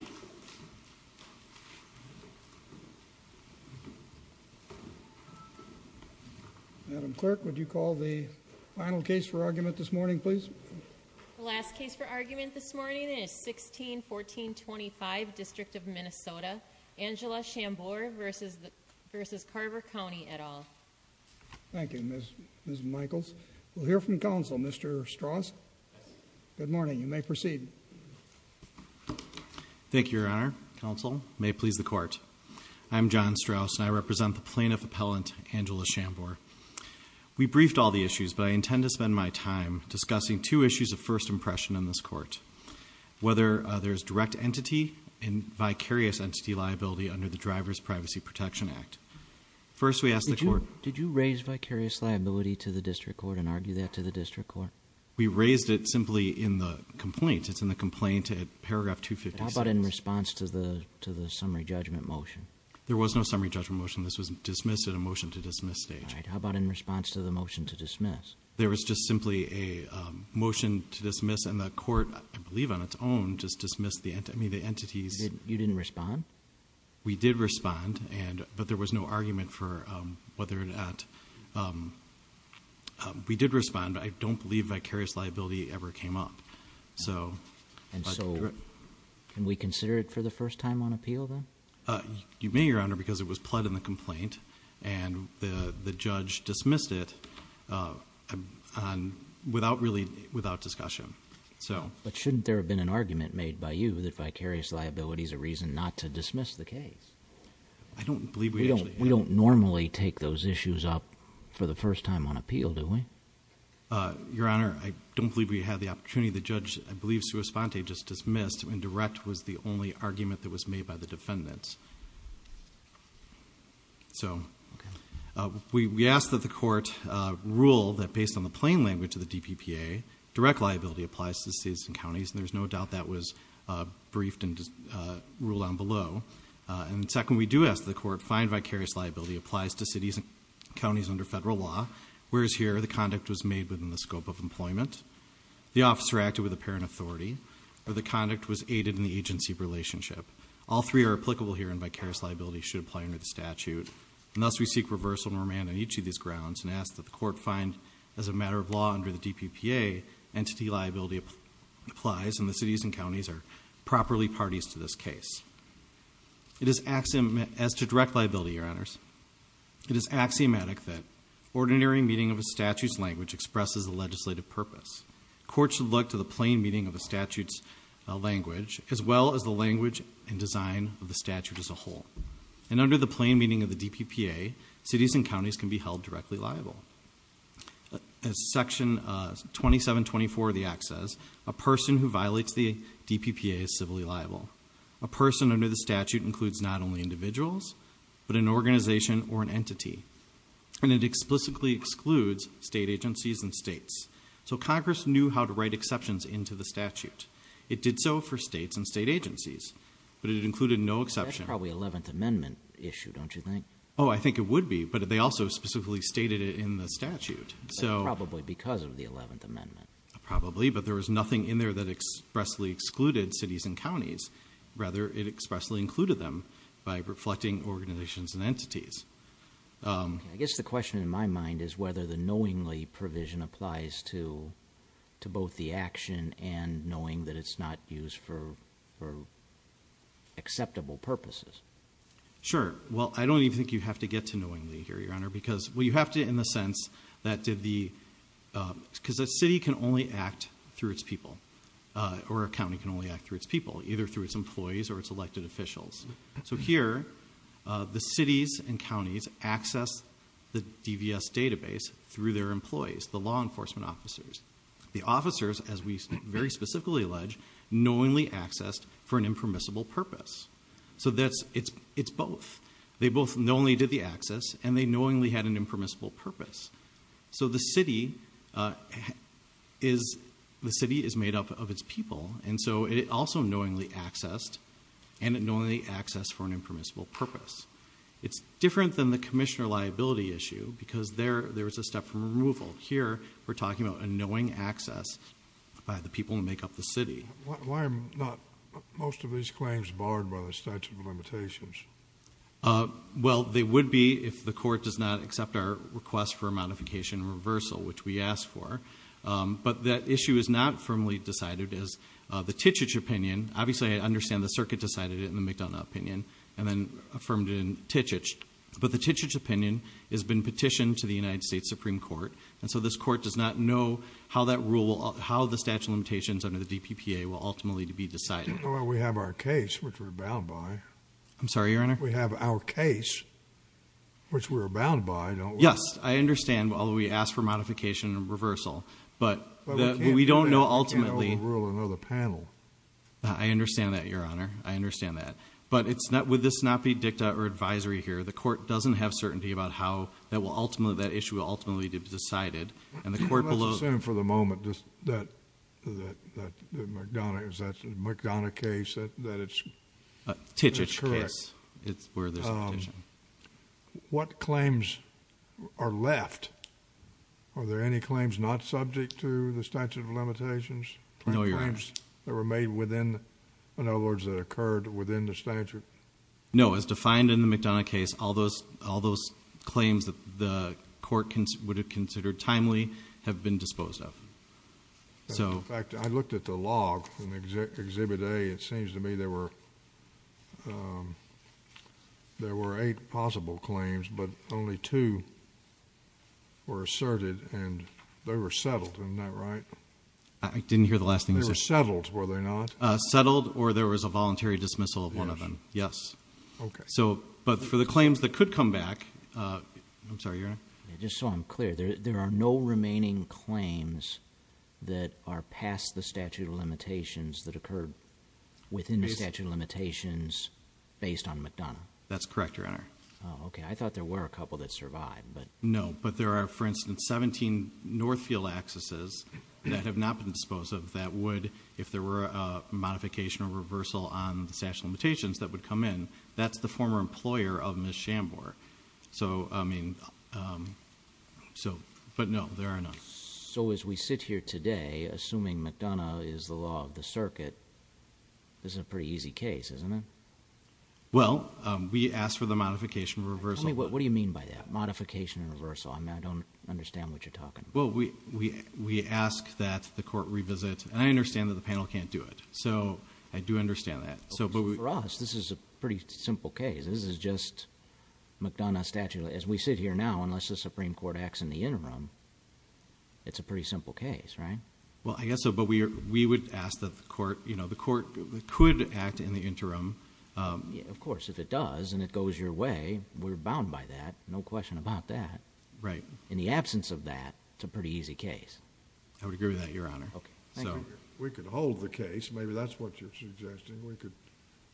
Mr. Strauss, you may proceed. Madam Clerk, would you call the final case for argument this morning, please? The last case for argument this morning is 16-1425, District of Minnesota. Angela Shambour v. Carver County, et al. Thank you, Ms. Michaels. We'll hear from counsel, Mr. Strauss. Good morning. You may proceed. Thank you, Your Honor. Counsel, you may please the court. I'm John Strauss, and I represent the plaintiff appellant, Angela Shambour. We briefed all the issues, but I intend to spend my time discussing two issues of first impression in this court, whether there is direct entity and vicarious entity liability under the Driver's Privacy Protection Act. First, we ask the court— Did you raise vicarious liability to the district court and argue that to the district court? We raised it simply in the complaint. It's in the complaint at paragraph 256. How about in response to the summary judgment motion? There was no summary judgment motion. This was dismissed at a motion-to-dismiss stage. All right. How about in response to the motion to dismiss? There was just simply a motion to dismiss, and the court, I believe on its own, just dismissed the entities. You didn't respond? We did respond, but there was no argument for whether or not— We did respond, but I don't believe vicarious liability ever came up. And so can we consider it for the first time on appeal, then? You may, Your Honor, because it was pled in the complaint, and the judge dismissed it without discussion. But shouldn't there have been an argument made by you that vicarious liability is a reason not to dismiss the case? I don't believe we actually— We don't normally take those issues up for the first time on appeal, do we? Your Honor, I don't believe we had the opportunity. The judge, I believe, just dismissed when direct was the only argument that was made by the defendants. So we asked that the court rule that based on the plain language of the DPPA, direct liability applies to the states and counties, and there's no doubt that was briefed and ruled on below. And second, we do ask that the court find vicarious liability applies to cities and counties under federal law, whereas here the conduct was made within the scope of employment, the officer acted with apparent authority, or the conduct was aided in the agency relationship. All three are applicable here, and vicarious liability should apply under the statute. And thus we seek reversal and remand on each of these grounds, and ask that the court find as a matter of law under the DPPA, entity liability applies and the cities and counties are properly parties to this case. As to direct liability, Your Honors, it is axiomatic that ordinary meeting of a statute's language expresses the legislative purpose. Courts should look to the plain meaning of a statute's language, as well as the language and design of the statute as a whole. And under the plain meaning of the DPPA, cities and counties can be held directly liable. As Section 2724 of the Act says, a person who violates the DPPA is civilly liable. A person under the statute includes not only individuals, but an organization or an entity. And it explicitly excludes state agencies and states. So Congress knew how to write exceptions into the statute. It did so for states and state agencies, but it included no exception. That's probably an Eleventh Amendment issue, don't you think? Oh, I think it would be, but they also specifically stated it in the statute. Probably because of the Eleventh Amendment. Probably, but there was nothing in there that expressly excluded cities and counties. Rather, it expressly included them by reflecting organizations and entities. I guess the question in my mind is whether the knowingly provision applies to both the action and knowing that it's not used for acceptable purposes. Sure. Well, I don't even think you have to get to knowingly here, Your Honor, because you have to in the sense that the city can only act through its people, or a county can only act through its people, either through its employees or its elected officials. So here, the cities and counties access the DVS database through their employees, the law enforcement officers. The officers, as we very specifically allege, knowingly accessed for an impermissible purpose. So it's both. They both knowingly did the access, and they knowingly had an impermissible purpose. So the city is made up of its people, and so it also knowingly accessed, and it knowingly accessed for an impermissible purpose. It's different than the commissioner liability issue, because there is a step for removal. Here, we're talking about a knowing access by the people who make up the city. Why are most of these claims barred by the statute of limitations? Well, they would be if the court does not accept our request for a modification and reversal, which we asked for. But that issue is not firmly decided as the Tychich opinion. Obviously, I understand the circuit decided it in the McDonough opinion and then affirmed it in Tychich. But the Tychich opinion has been petitioned to the United States Supreme Court, and so this court does not know how the statute of limitations under the DPPA will ultimately be decided. We have our case, which we're bound by. I'm sorry, Your Honor? We have our case, which we're bound by. Yes, I understand, although we asked for modification and reversal. But we don't know ultimately. We can't overrule another panel. I understand that, Your Honor. I understand that. But would this not be dicta or advisory here? The court doesn't have certainty about how that issue will ultimately be decided. Let's assume for the moment that the McDonough case, that it's correct. Tychich case is where there's a petition. What claims are left? Are there any claims not subject to the statute of limitations? No, Your Honor. Claims that were made within, in other words, that occurred within the statute? No. As defined in the McDonough case, all those claims that the court would have considered timely have been disposed of. In fact, I looked at the log in Exhibit A. It seems to me there were eight possible claims, but only two were asserted, and they were settled. Isn't that right? I didn't hear the last thing you said. They were settled, were they not? Settled, or there was a voluntary dismissal of one of them. Yes. Okay. But for the claims that could come back, I'm sorry, Your Honor? Just so I'm clear, there are no remaining claims that are past the statute of limitations that occurred within the statute of limitations based on McDonough? That's correct, Your Honor. Okay. I thought there were a couple that survived. No. But there are, for instance, 17 Northfield accesses that have not been disposed of that would, if there were a modification or reversal on the statute of limitations that would come in, that's the former employer of Ms. Schambour. So, I mean, so, but no, there are none. So as we sit here today, assuming McDonough is the law of the circuit, this is a pretty easy case, isn't it? Tell me, what do you mean by that, modification or reversal? I mean, I don't understand what you're talking about. Well, we ask that the court revisit, and I understand that the panel can't do it. So I do understand that. For us, this is a pretty simple case. This is just McDonough statute. As we sit here now, unless the Supreme Court acts in the interim, it's a pretty simple case, right? Well, I guess so, but we would ask that the court, you know, the court could act in the interim. Of course, if it does and it goes your way, we're bound by that. No question about that. Right. In the absence of that, it's a pretty easy case. I would agree with that, Your Honor. Okay. Thank you. We could hold the case. Maybe that's what you're suggesting. We could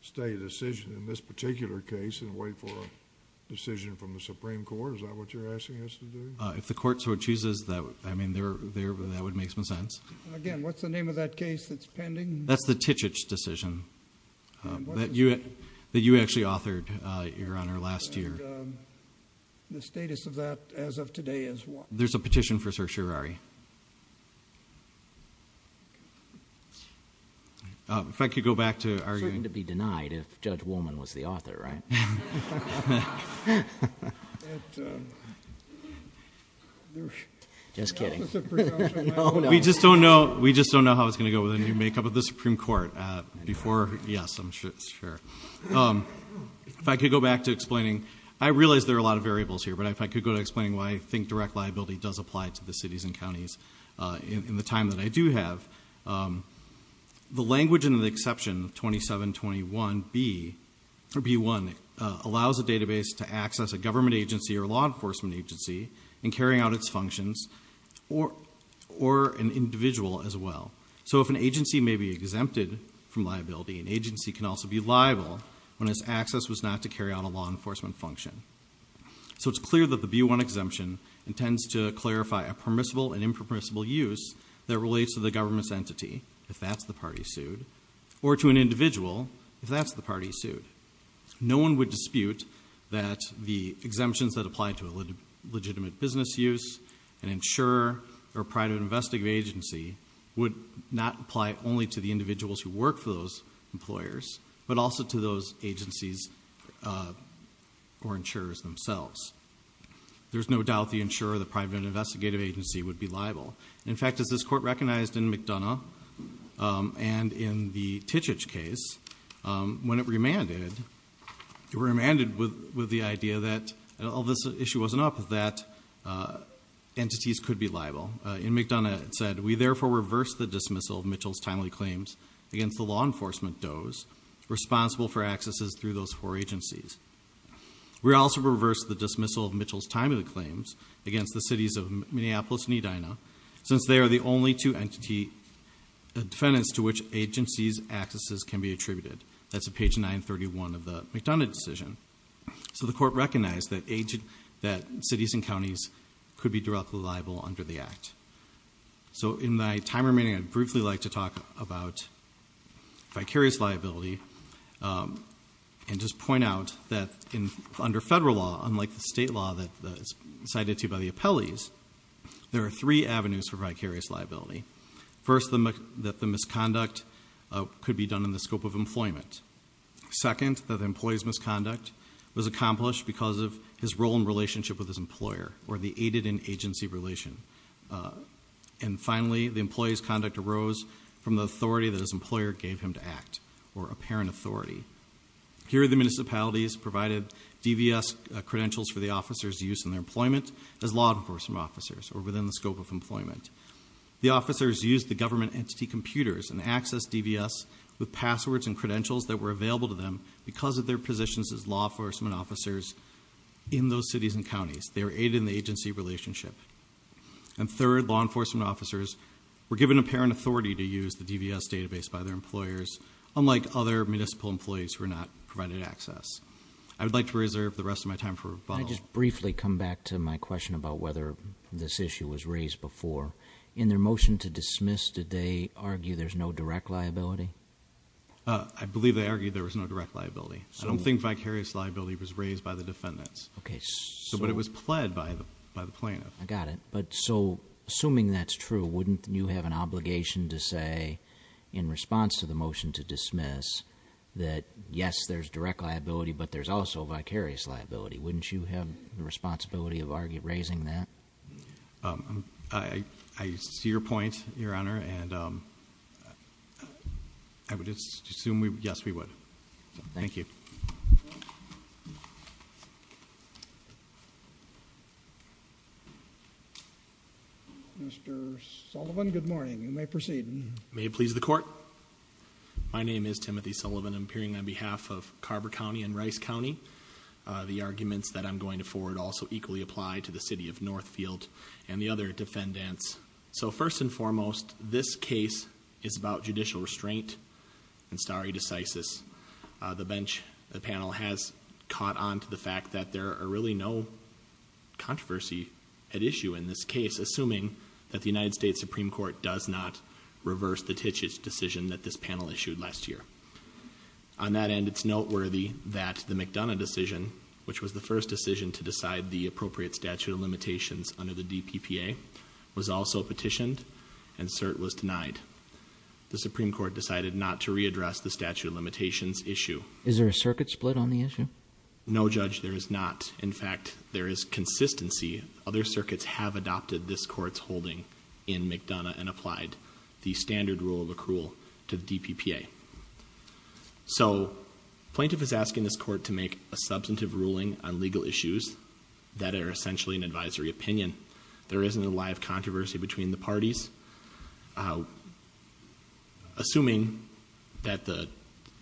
stay a decision in this particular case and wait for a decision from the Supreme Court. Is that what you're asking us to do? If the court so chooses, I mean, that would make some sense. Again, what's the name of that case that's pending? That's the Tichich decision. That you actually authored, Your Honor, last year. And the status of that as of today is what? There's a petition for certiorari. If I could go back to arguing. You're certain to be denied if Judge Woolman was the author, right? Just kidding. No, no. We just don't know how it's going to go with the makeup of the Supreme Court. Yes, I'm sure. If I could go back to explaining. I realize there are a lot of variables here. But if I could go to explaining why I think direct liability does apply to the cities and counties in the time that I do have. The language in the exception of 2721B or B1 allows a database to access a government agency or law enforcement agency in carrying out its functions or an individual as well. So if an agency may be exempted from liability, an agency can also be liable when its access was not to carry out a law enforcement function. So it's clear that the B1 exemption intends to clarify a permissible and impermissible use that relates to the government's entity, if that's the party sued, or to an individual, if that's the party sued. No one would dispute that the exemptions that apply to a legitimate business use, an insurer, or private investigative agency would not apply only to the individuals who work for those employers, but also to those agencies or insurers themselves. There's no doubt the insurer or the private investigative agency would be liable. In fact, as this Court recognized in McDonough and in the Tichich case, when it remanded, it remanded with the idea that, although this issue wasn't up, that entities could be liable. In McDonough it said, We therefore reverse the dismissal of Mitchell's timely claims against the law enforcement does responsible for accesses through those four agencies. We also reverse the dismissal of Mitchell's timely claims against the cities of Minneapolis and Edina, since they are the only two entity defendants to which agencies' accesses can be attributed. That's at page 931 of the McDonough decision. So the Court recognized that cities and counties could be directly liable under the Act. So in my time remaining, I'd briefly like to talk about vicarious liability and just point out that under federal law, unlike the state law that is cited to you by the appellees, there are three avenues for vicarious liability. First, that the misconduct could be done in the scope of employment. Second, that the employee's misconduct was accomplished because of his role in relationship with his employer or the aided in agency relation. And finally, the employee's conduct arose from the authority that his employer gave him to act, or apparent authority. Here, the municipalities provided DVS credentials for the officers' use in their employment as law enforcement officers, or within the scope of employment. The officers used the government entity computers and accessed DVS with passwords and credentials that were available to them because of their positions as law enforcement officers in those cities and counties. They were aided in the agency relationship. And third, law enforcement officers were given apparent authority to use the DVS database by their employers, unlike other municipal employees who were not provided access. I would like to reserve the rest of my time for rebuttal. Can I just briefly come back to my question about whether this issue was raised before? In their motion to dismiss, did they argue there's no direct liability? I believe they argued there was no direct liability. I don't think vicarious liability was raised by the defendants. But it was pled by the plaintiff. I got it. But so, assuming that's true, wouldn't you have an obligation to say, in response to the motion to dismiss, that yes, there's direct liability, but there's also vicarious liability? Wouldn't you have the responsibility of raising that? I see your point, Your Honor, and I would assume, yes, we would. Thank you. Mr. Sullivan, good morning. You may proceed. May it please the Court. My name is Timothy Sullivan. I'm appearing on behalf of Carver County and Rice County. The arguments that I'm going to forward also equally apply to the City of Northfield and the other defendants. So, first and foremost, this case is about judicial restraint and stare decisis. The bench, the panel, has caught on to the fact that there are really no controversy at issue in this case, assuming that the United States Supreme Court does not reverse the Titich decision that this panel issued last year. On that end, it's noteworthy that the McDonough decision, which was the first decision to decide the appropriate statute of limitations under the DPPA, was also petitioned and cert was denied. The Supreme Court decided not to readdress the statute of limitations issue. Is there a circuit split on the issue? No, Judge, there is not. In fact, there is consistency. Other circuits have adopted this Court's holding in McDonough and applied the standard rule of accrual to the DPPA. So, plaintiff is asking this Court to make a substantive ruling on legal issues that are essentially an advisory opinion. There isn't a live controversy between the parties. Assuming that the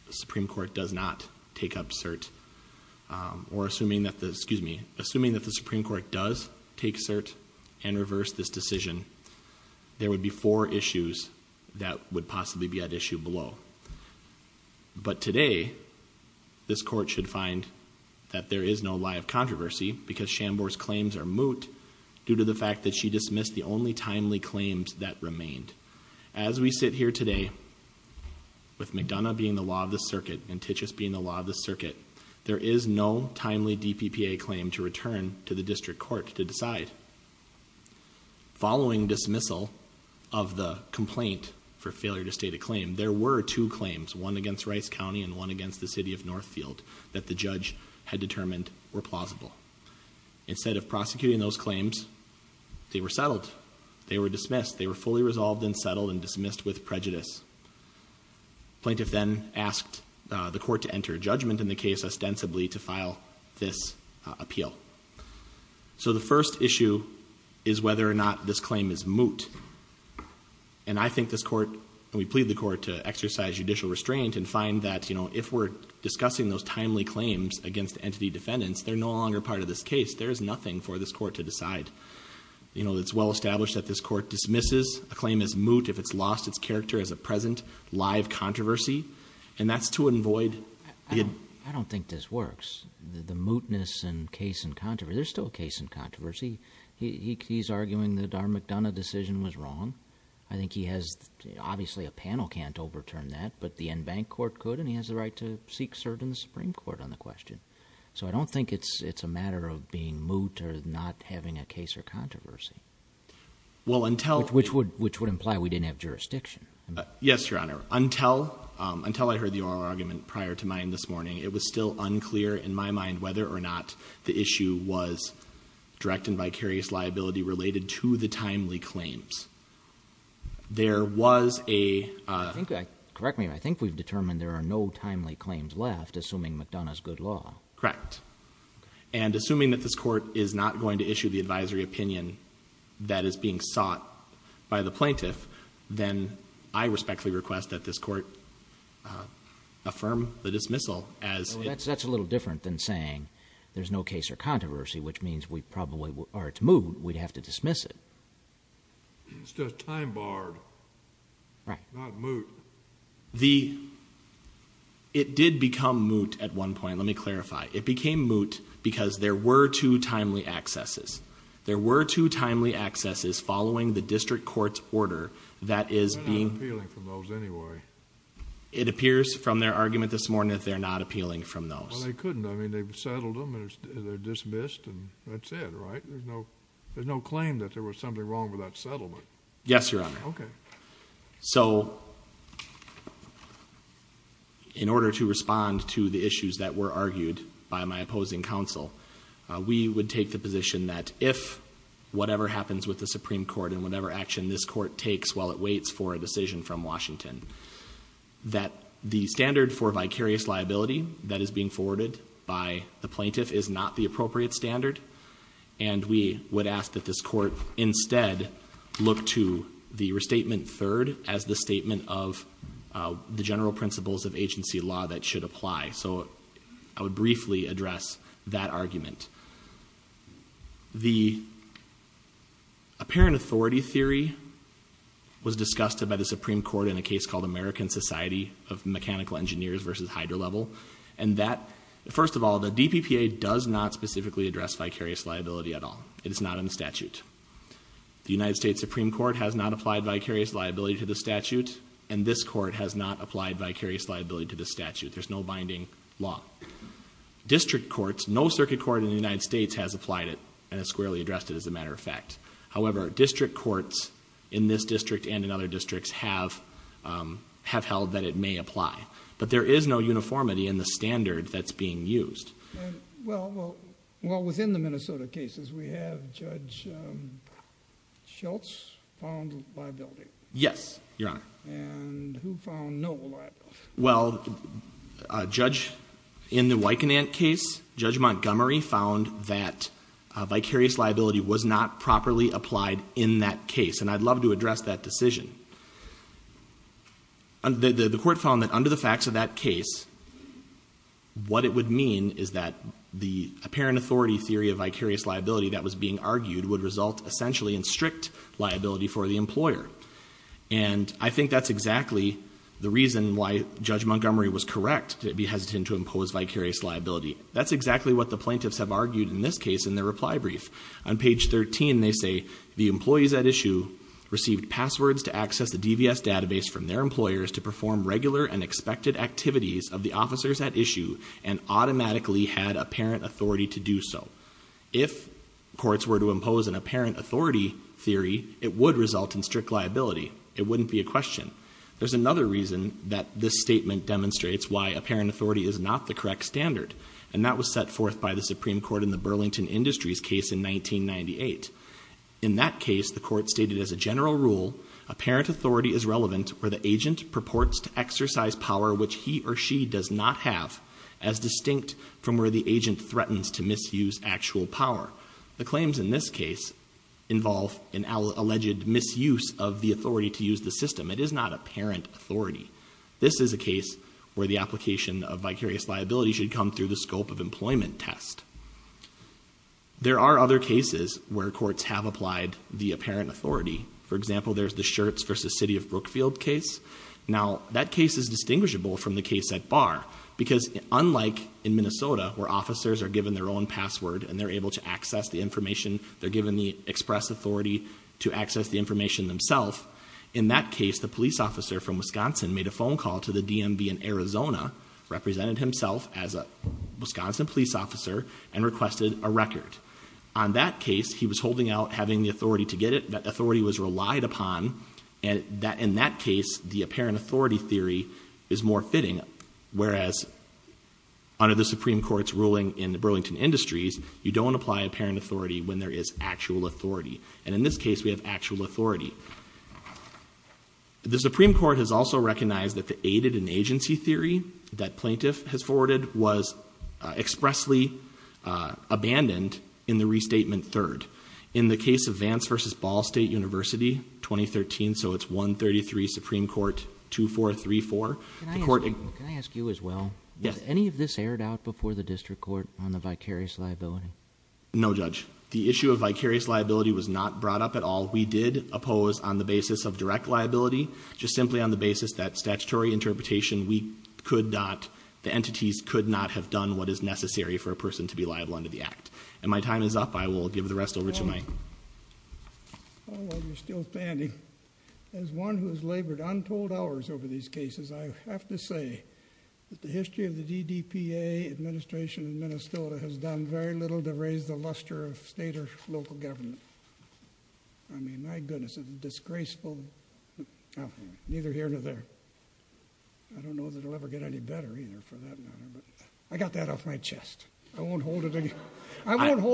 Supreme Court does not take up cert, or assuming that the Supreme Court does take cert and reverse this decision, there would be four issues that would possibly be at issue below. But today, this Court should find that there is no live controversy because Shambor's claims are moot due to the fact that she dismissed the only timely claims that remained. As we sit here today, with McDonough being the law of the circuit and Titus being the law of the circuit, there is no timely DPPA claim to return to the District Court to decide. Following dismissal of the complaint for failure to state a claim, there were two claims, one against Rice County and one against the City of Northfield, that the judge had determined were plausible. Instead of prosecuting those claims, they were settled. They were dismissed. They were fully resolved and settled and dismissed with prejudice. Plaintiff then asked the Court to enter a judgment in the case ostensibly to file this appeal. So, the first issue is whether or not this claim is moot. And I think this Court, and we plead the Court to exercise judicial restraint and find that, you know, if we're discussing those timely claims against entity defendants, they're no longer part of this case. There is nothing for this Court to decide. You know, it's well established that this Court dismisses a claim as moot if it's lost its character as a present live controversy. And that's to avoid… I don't think this works. The mootness and case in controversy, there's still a case in controversy. He's arguing that our McDonough decision was wrong. I think he has… Obviously, a panel can't overturn that, but the en banc court could, and he has the right to seek cert in the Supreme Court on the question. So, I don't think it's a matter of being moot or not having a case or controversy. Well, until… Which would imply we didn't have jurisdiction. Yes, Your Honor. Until I heard the oral argument prior to mine this morning, it was still unclear in my mind whether or not the issue was direct and vicarious liability related to the timely claims. There was a… Correct me if I'm wrong. I think we've determined there are no timely claims left, assuming McDonough's good law. Correct. And assuming that this Court is not going to issue the advisory opinion that is being sought by the plaintiff, then I respectfully request that this Court affirm the dismissal as… That's a little different than saying there's no case or controversy, which means we probably… Or it's moot. We'd have to dismiss it. It's just time barred. Right. Not moot. The… It did become moot at one point. Let me clarify. It became moot because there were two timely accesses. There were two timely accesses following the district court's order that is being… They're not appealing from those anyway. It appears from their argument this morning that they're not appealing from those. Well, they couldn't. I mean, they've settled them, and they're dismissed, and that's it, right? There's no claim that there was something wrong with that settlement. Yes, Your Honor. Okay. So, in order to respond to the issues that were argued by my opposing counsel, we would take the position that if whatever happens with the Supreme Court and whatever action this Court takes while it waits for a decision from Washington, that the standard for vicarious liability that is being forwarded by the plaintiff is not the appropriate standard, and we would ask that this Court instead look to the restatement third as the statement of the general principles of agency law that should apply. So I would briefly address that argument. The apparent authority theory was discussed by the Supreme Court in a case called American Society of Mechanical Engineers v. Hydro Level, and that, first of all, the DPPA does not specifically address vicarious liability at all. It is not in the statute. The United States Supreme Court has not applied vicarious liability to the statute, and this Court has not applied vicarious liability to the statute. There's no binding law. District courts, no circuit court in the United States has applied it and has squarely addressed it, as a matter of fact. However, district courts in this district and in other districts have held that it may apply. But there is no uniformity in the standard that's being used. Well, within the Minnesota cases, we have Judge Schultz found liability. Yes, Your Honor. And who found no liability? Well, Judge, in the Wiconant case, Judge Montgomery found that vicarious liability was not properly applied in that case, and I'd love to address that decision. The Court found that under the facts of that case, what it would mean is that the apparent authority theory of vicarious liability that was being argued would result essentially in strict liability for the employer. And I think that's exactly the reason why Judge Montgomery was correct to be hesitant to impose vicarious liability. That's exactly what the plaintiffs have argued in this case in their reply brief. On page 13, they say, If courts were to impose an apparent authority theory, it would result in strict liability. It wouldn't be a question. There's another reason that this statement demonstrates why apparent authority is not the correct standard, and that was set forth by the Supreme Court in the Burlington Industries case in 1998. In that case, the Court stated as a general rule, The claims in this case involve an alleged misuse of the authority to use the system. It is not apparent authority. This is a case where the application of vicarious liability should come through the scope of employment test. There are other cases where courts have applied the apparent authority. For example, there's the Schertz v. City of Brookfield case. Now, that case is distinguishable from the case at Barr because unlike in Minnesota where officers are given their own password and they're able to access the information, they're given the express authority to access the information themselves, In that case, the police officer from Wisconsin made a phone call to the DMV in Arizona, represented himself as a Wisconsin police officer, and requested a record. On that case, he was holding out having the authority to get it. That authority was relied upon. In that case, the apparent authority theory is more fitting, whereas under the Supreme Court's ruling in the Burlington Industries, you don't apply apparent authority when there is actual authority. And in this case, we have actual authority. The Supreme Court has also recognized that the aided-in-agency theory that plaintiff has forwarded was expressly abandoned in the restatement third. In the case of Vance v. Ball State University, 2013, so it's 133 Supreme Court 2434. Can I ask you as well? Yes. Has any of this aired out before the district court on the vicarious liability? No, Judge. The issue of vicarious liability was not brought up at all. We did oppose on the basis of direct liability, just simply on the basis that statutory interpretation, we could not, the entities could not have done what is necessary for a person to be liable under the act. And my time is up. I will give the rest over to Mike. While you're still standing, as one who has labored untold hours over these cases, I have to say that the history of the DDPA administration in Minnesota has done very little to raise the luster of state or local government. I mean, my goodness, it's disgraceful. Neither here nor there. I don't know that it will ever get any better either for that matter. I got that off my chest. I won't hold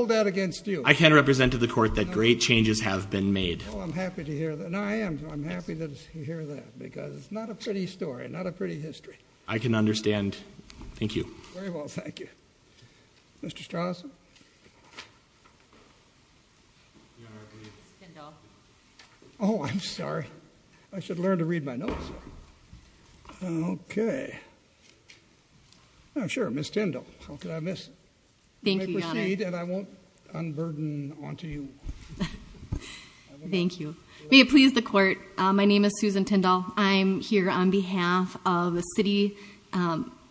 that against you. I can represent to the court that great changes have been made. Oh, I'm happy to hear that. No, I am. I'm happy to hear that because it's not a pretty story, not a pretty history. I can understand. Thank you. Very well. Thank you. Mr. Strauss? Ms. Tindall. Oh, I'm sorry. I should learn to read my notes. Okay. Sure, Ms. Tindall. How could I miss? Thank you, Your Honor. May I proceed? And I won't unburden onto you. Thank you. May it please the court, my name is Susan Tindall. I'm here on behalf of the city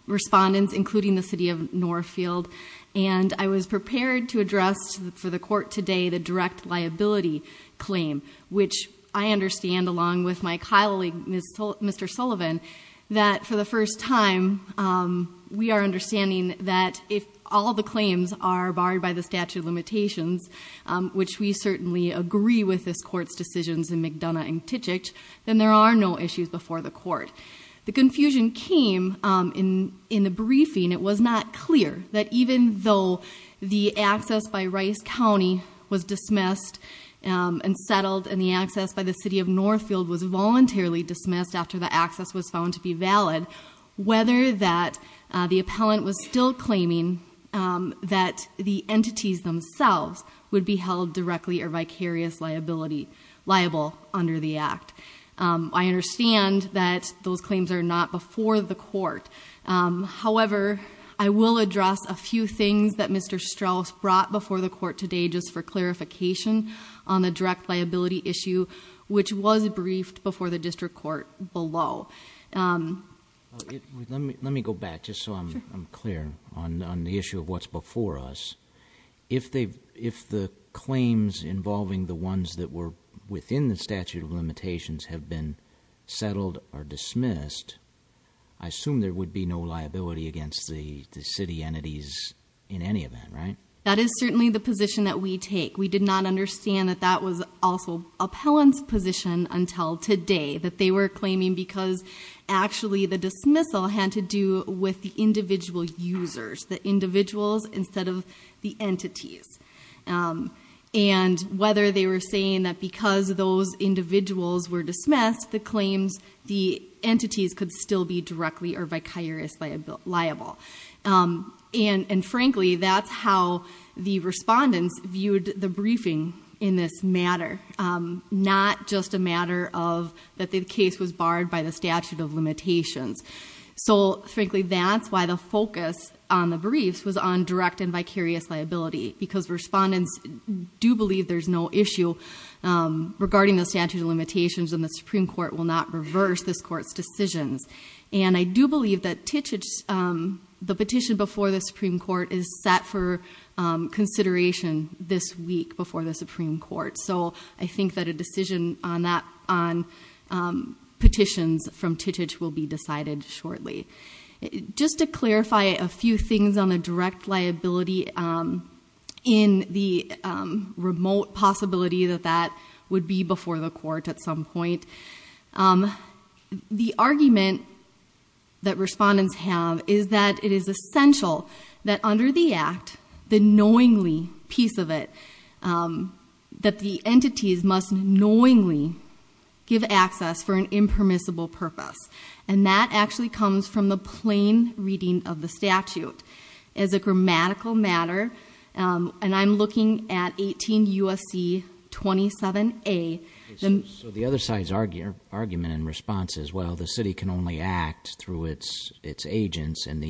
respondents, including the city of Northfield. And I was prepared to address for the court today the direct liability claim, which I understand, along with my colleague, Mr. Sullivan, that for the first time, we are understanding that if all the claims are barred by the statute of limitations, which we certainly agree with this court's decisions in McDonough and Titchett, then there are no issues before the court. The confusion came in the briefing. It was not clear that even though the access by Rice County was dismissed and settled and the access by the city of Northfield was voluntarily dismissed after the access was found to be valid, whether that the appellant was still claiming that the entities themselves would be held directly or vicarious liable under the act. I understand that those claims are not before the court. However, I will address a few things that Mr. Strauss brought before the court today just for clarification on the direct liability issue, which was briefed before the district court below. Let me go back just so I'm clear on the issue of what's before us. If the claims involving the ones that were within the statute of limitations have been settled or dismissed, I assume there would be no liability against the city entities in any event, right? That is certainly the position that we take. We did not understand that that was also appellant's position until today, that they were claiming because actually the dismissal had to do with the individual users, the individuals instead of the entities. And whether they were saying that because those individuals were dismissed, the claims, the entities could still be directly or vicarious liable. And frankly, that's how the respondents viewed the briefing in this matter, not just a matter of that the case was barred by the statute of limitations. So frankly, that's why the focus on the briefs was on direct and vicarious liability, because respondents do believe there's no issue regarding the statute of limitations and the Supreme Court will not reverse this court's decisions. And I do believe that the petition before the Supreme Court is set for consideration this week before the Supreme Court. So I think that a decision on petitions from Titich will be decided shortly. Just to clarify a few things on a direct liability in the remote possibility that that would be before the court at some point, the argument that respondents have is that it is essential that under the act, the knowingly piece of it, that the entities must knowingly give access for an impermissible purpose. And that actually comes from the plain reading of the statute. As a grammatical matter, and I'm looking at 18 U.S.C. 27A. So the other side's argument in response is, well, the city can only act through its agents, and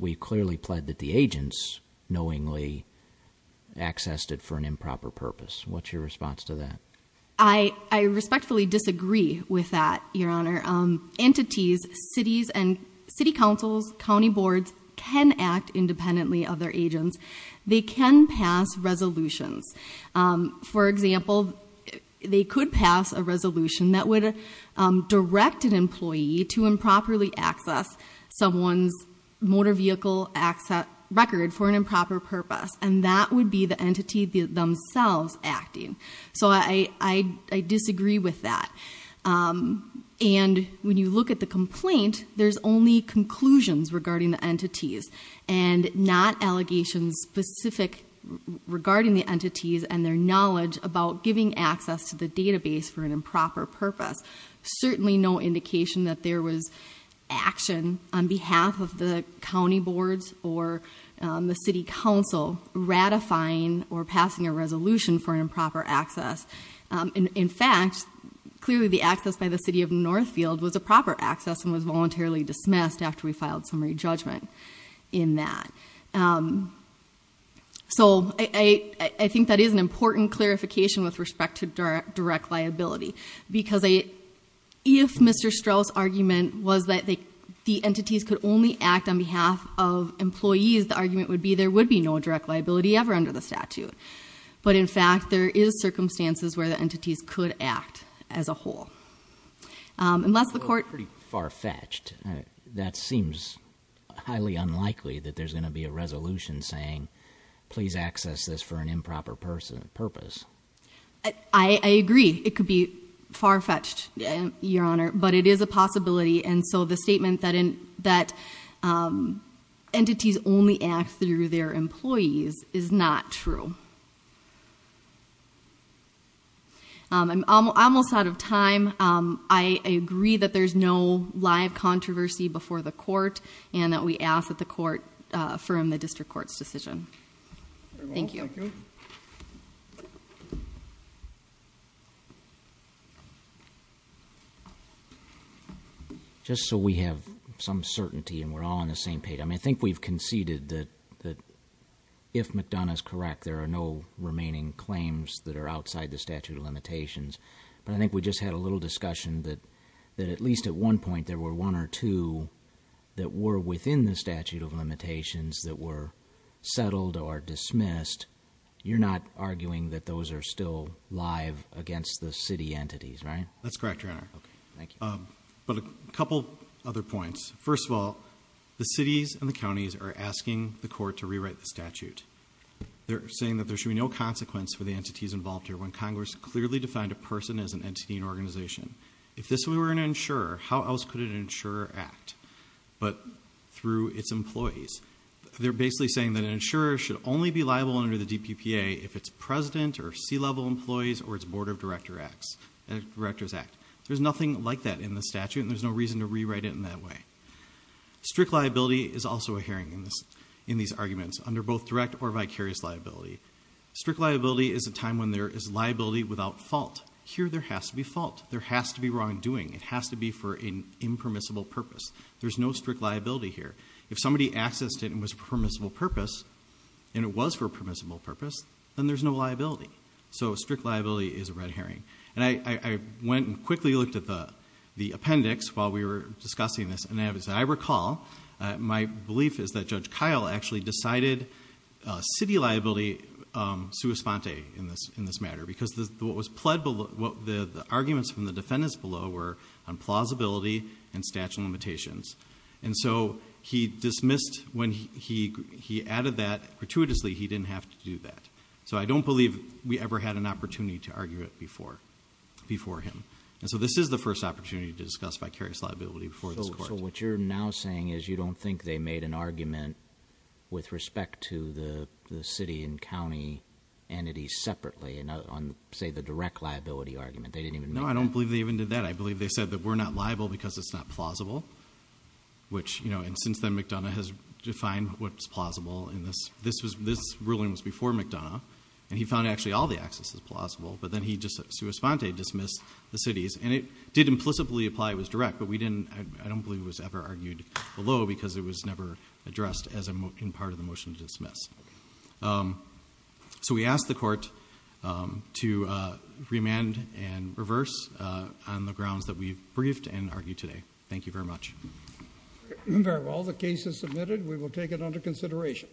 we clearly pled that the agents knowingly accessed it for an improper purpose. What's your response to that? I respectfully disagree with that, Your Honor. Entities, cities, and city councils, county boards can act independently of their agents. They can pass resolutions. For example, they could pass a resolution that would direct an employee to improperly access someone's motor vehicle record for an improper purpose, and that would be the entity themselves acting. So I disagree with that. And when you look at the complaint, there's only conclusions regarding the entities and not allegations specific regarding the entities and their knowledge about giving access to the database for an improper purpose. Certainly no indication that there was action on behalf of the county boards or the city council ratifying or passing a resolution for an improper access. In fact, clearly the access by the city of Northfield was a proper access and was voluntarily dismissed after we filed summary judgment in that. So I think that is an important clarification with respect to direct liability because if Mr. Strauss' argument was that the entities could only act on behalf of employees, the argument would be there would be no direct liability ever under the statute. But in fact, there is circumstances where the entities could act as a whole. Unless the court- That's pretty far-fetched. That seems highly unlikely that there's going to be a resolution saying, please access this for an improper purpose. I agree. It could be far-fetched, Your Honor, but it is a possibility. And so the statement that entities only act through their employees is not true. I'm almost out of time. I agree that there's no live controversy before the court and that we ask that the court affirm the district court's decision. Thank you. Just so we have some certainty and we're all on the same page. I mean, I think we've conceded that if McDonough's correct, there are no remaining claims that are outside the statute of limitations. But I think we just had a little discussion that at least at one point, there were one or two that were within the statute of limitations that were settled or dismissed. You're not arguing that those are still live against the city entities, right? That's correct, Your Honor. Okay, thank you. But a couple other points. First of all, the cities and the counties are asking the court to rewrite the statute. They're saying that there should be no consequence for the entities involved here when Congress clearly defined a person as an entity and organization. If this were an insurer, how else could an insurer act but through its employees? They're basically saying that an insurer should only be liable under the DPPA if it's president or C-level employees or it's board of directors act. There's nothing like that in the statute, and there's no reason to rewrite it in that way. Strict liability is also a hearing in these arguments under both direct or vicarious liability. Strict liability is a time when there is liability without fault. Here there has to be fault. There has to be wrongdoing. It has to be for an impermissible purpose. There's no strict liability here. If somebody accessed it and it was for a permissible purpose, and it was for a permissible purpose, then there's no liability. So strict liability is a red herring. I went and quickly looked at the appendix while we were discussing this, and as I recall, my belief is that Judge Kyle actually decided city liability sui sponte in this matter because the arguments from the defendants below were on plausibility and statute of limitations. And so he dismissed when he added that. Gratuitously, he didn't have to do that. So I don't believe we ever had an opportunity to argue it before him. And so this is the first opportunity to discuss vicarious liability before this court. So what you're now saying is you don't think they made an argument with respect to the city and county entities separately on, say, the direct liability argument? They didn't even make that? No, I don't believe they even did that. I believe they said that we're not liable because it's not plausible, and since then McDonough has defined what's plausible. This ruling was before McDonough, and he found actually all the accesses plausible, but then he just sui sponte dismissed the cities, and it did implicitly apply it was direct, but I don't believe it was ever argued below because it was never addressed in part of the motion to dismiss. So we ask the court to remand and reverse on the grounds that we've briefed and argued today. Thank you very much. Very well. The case is submitted. We will take it under consideration.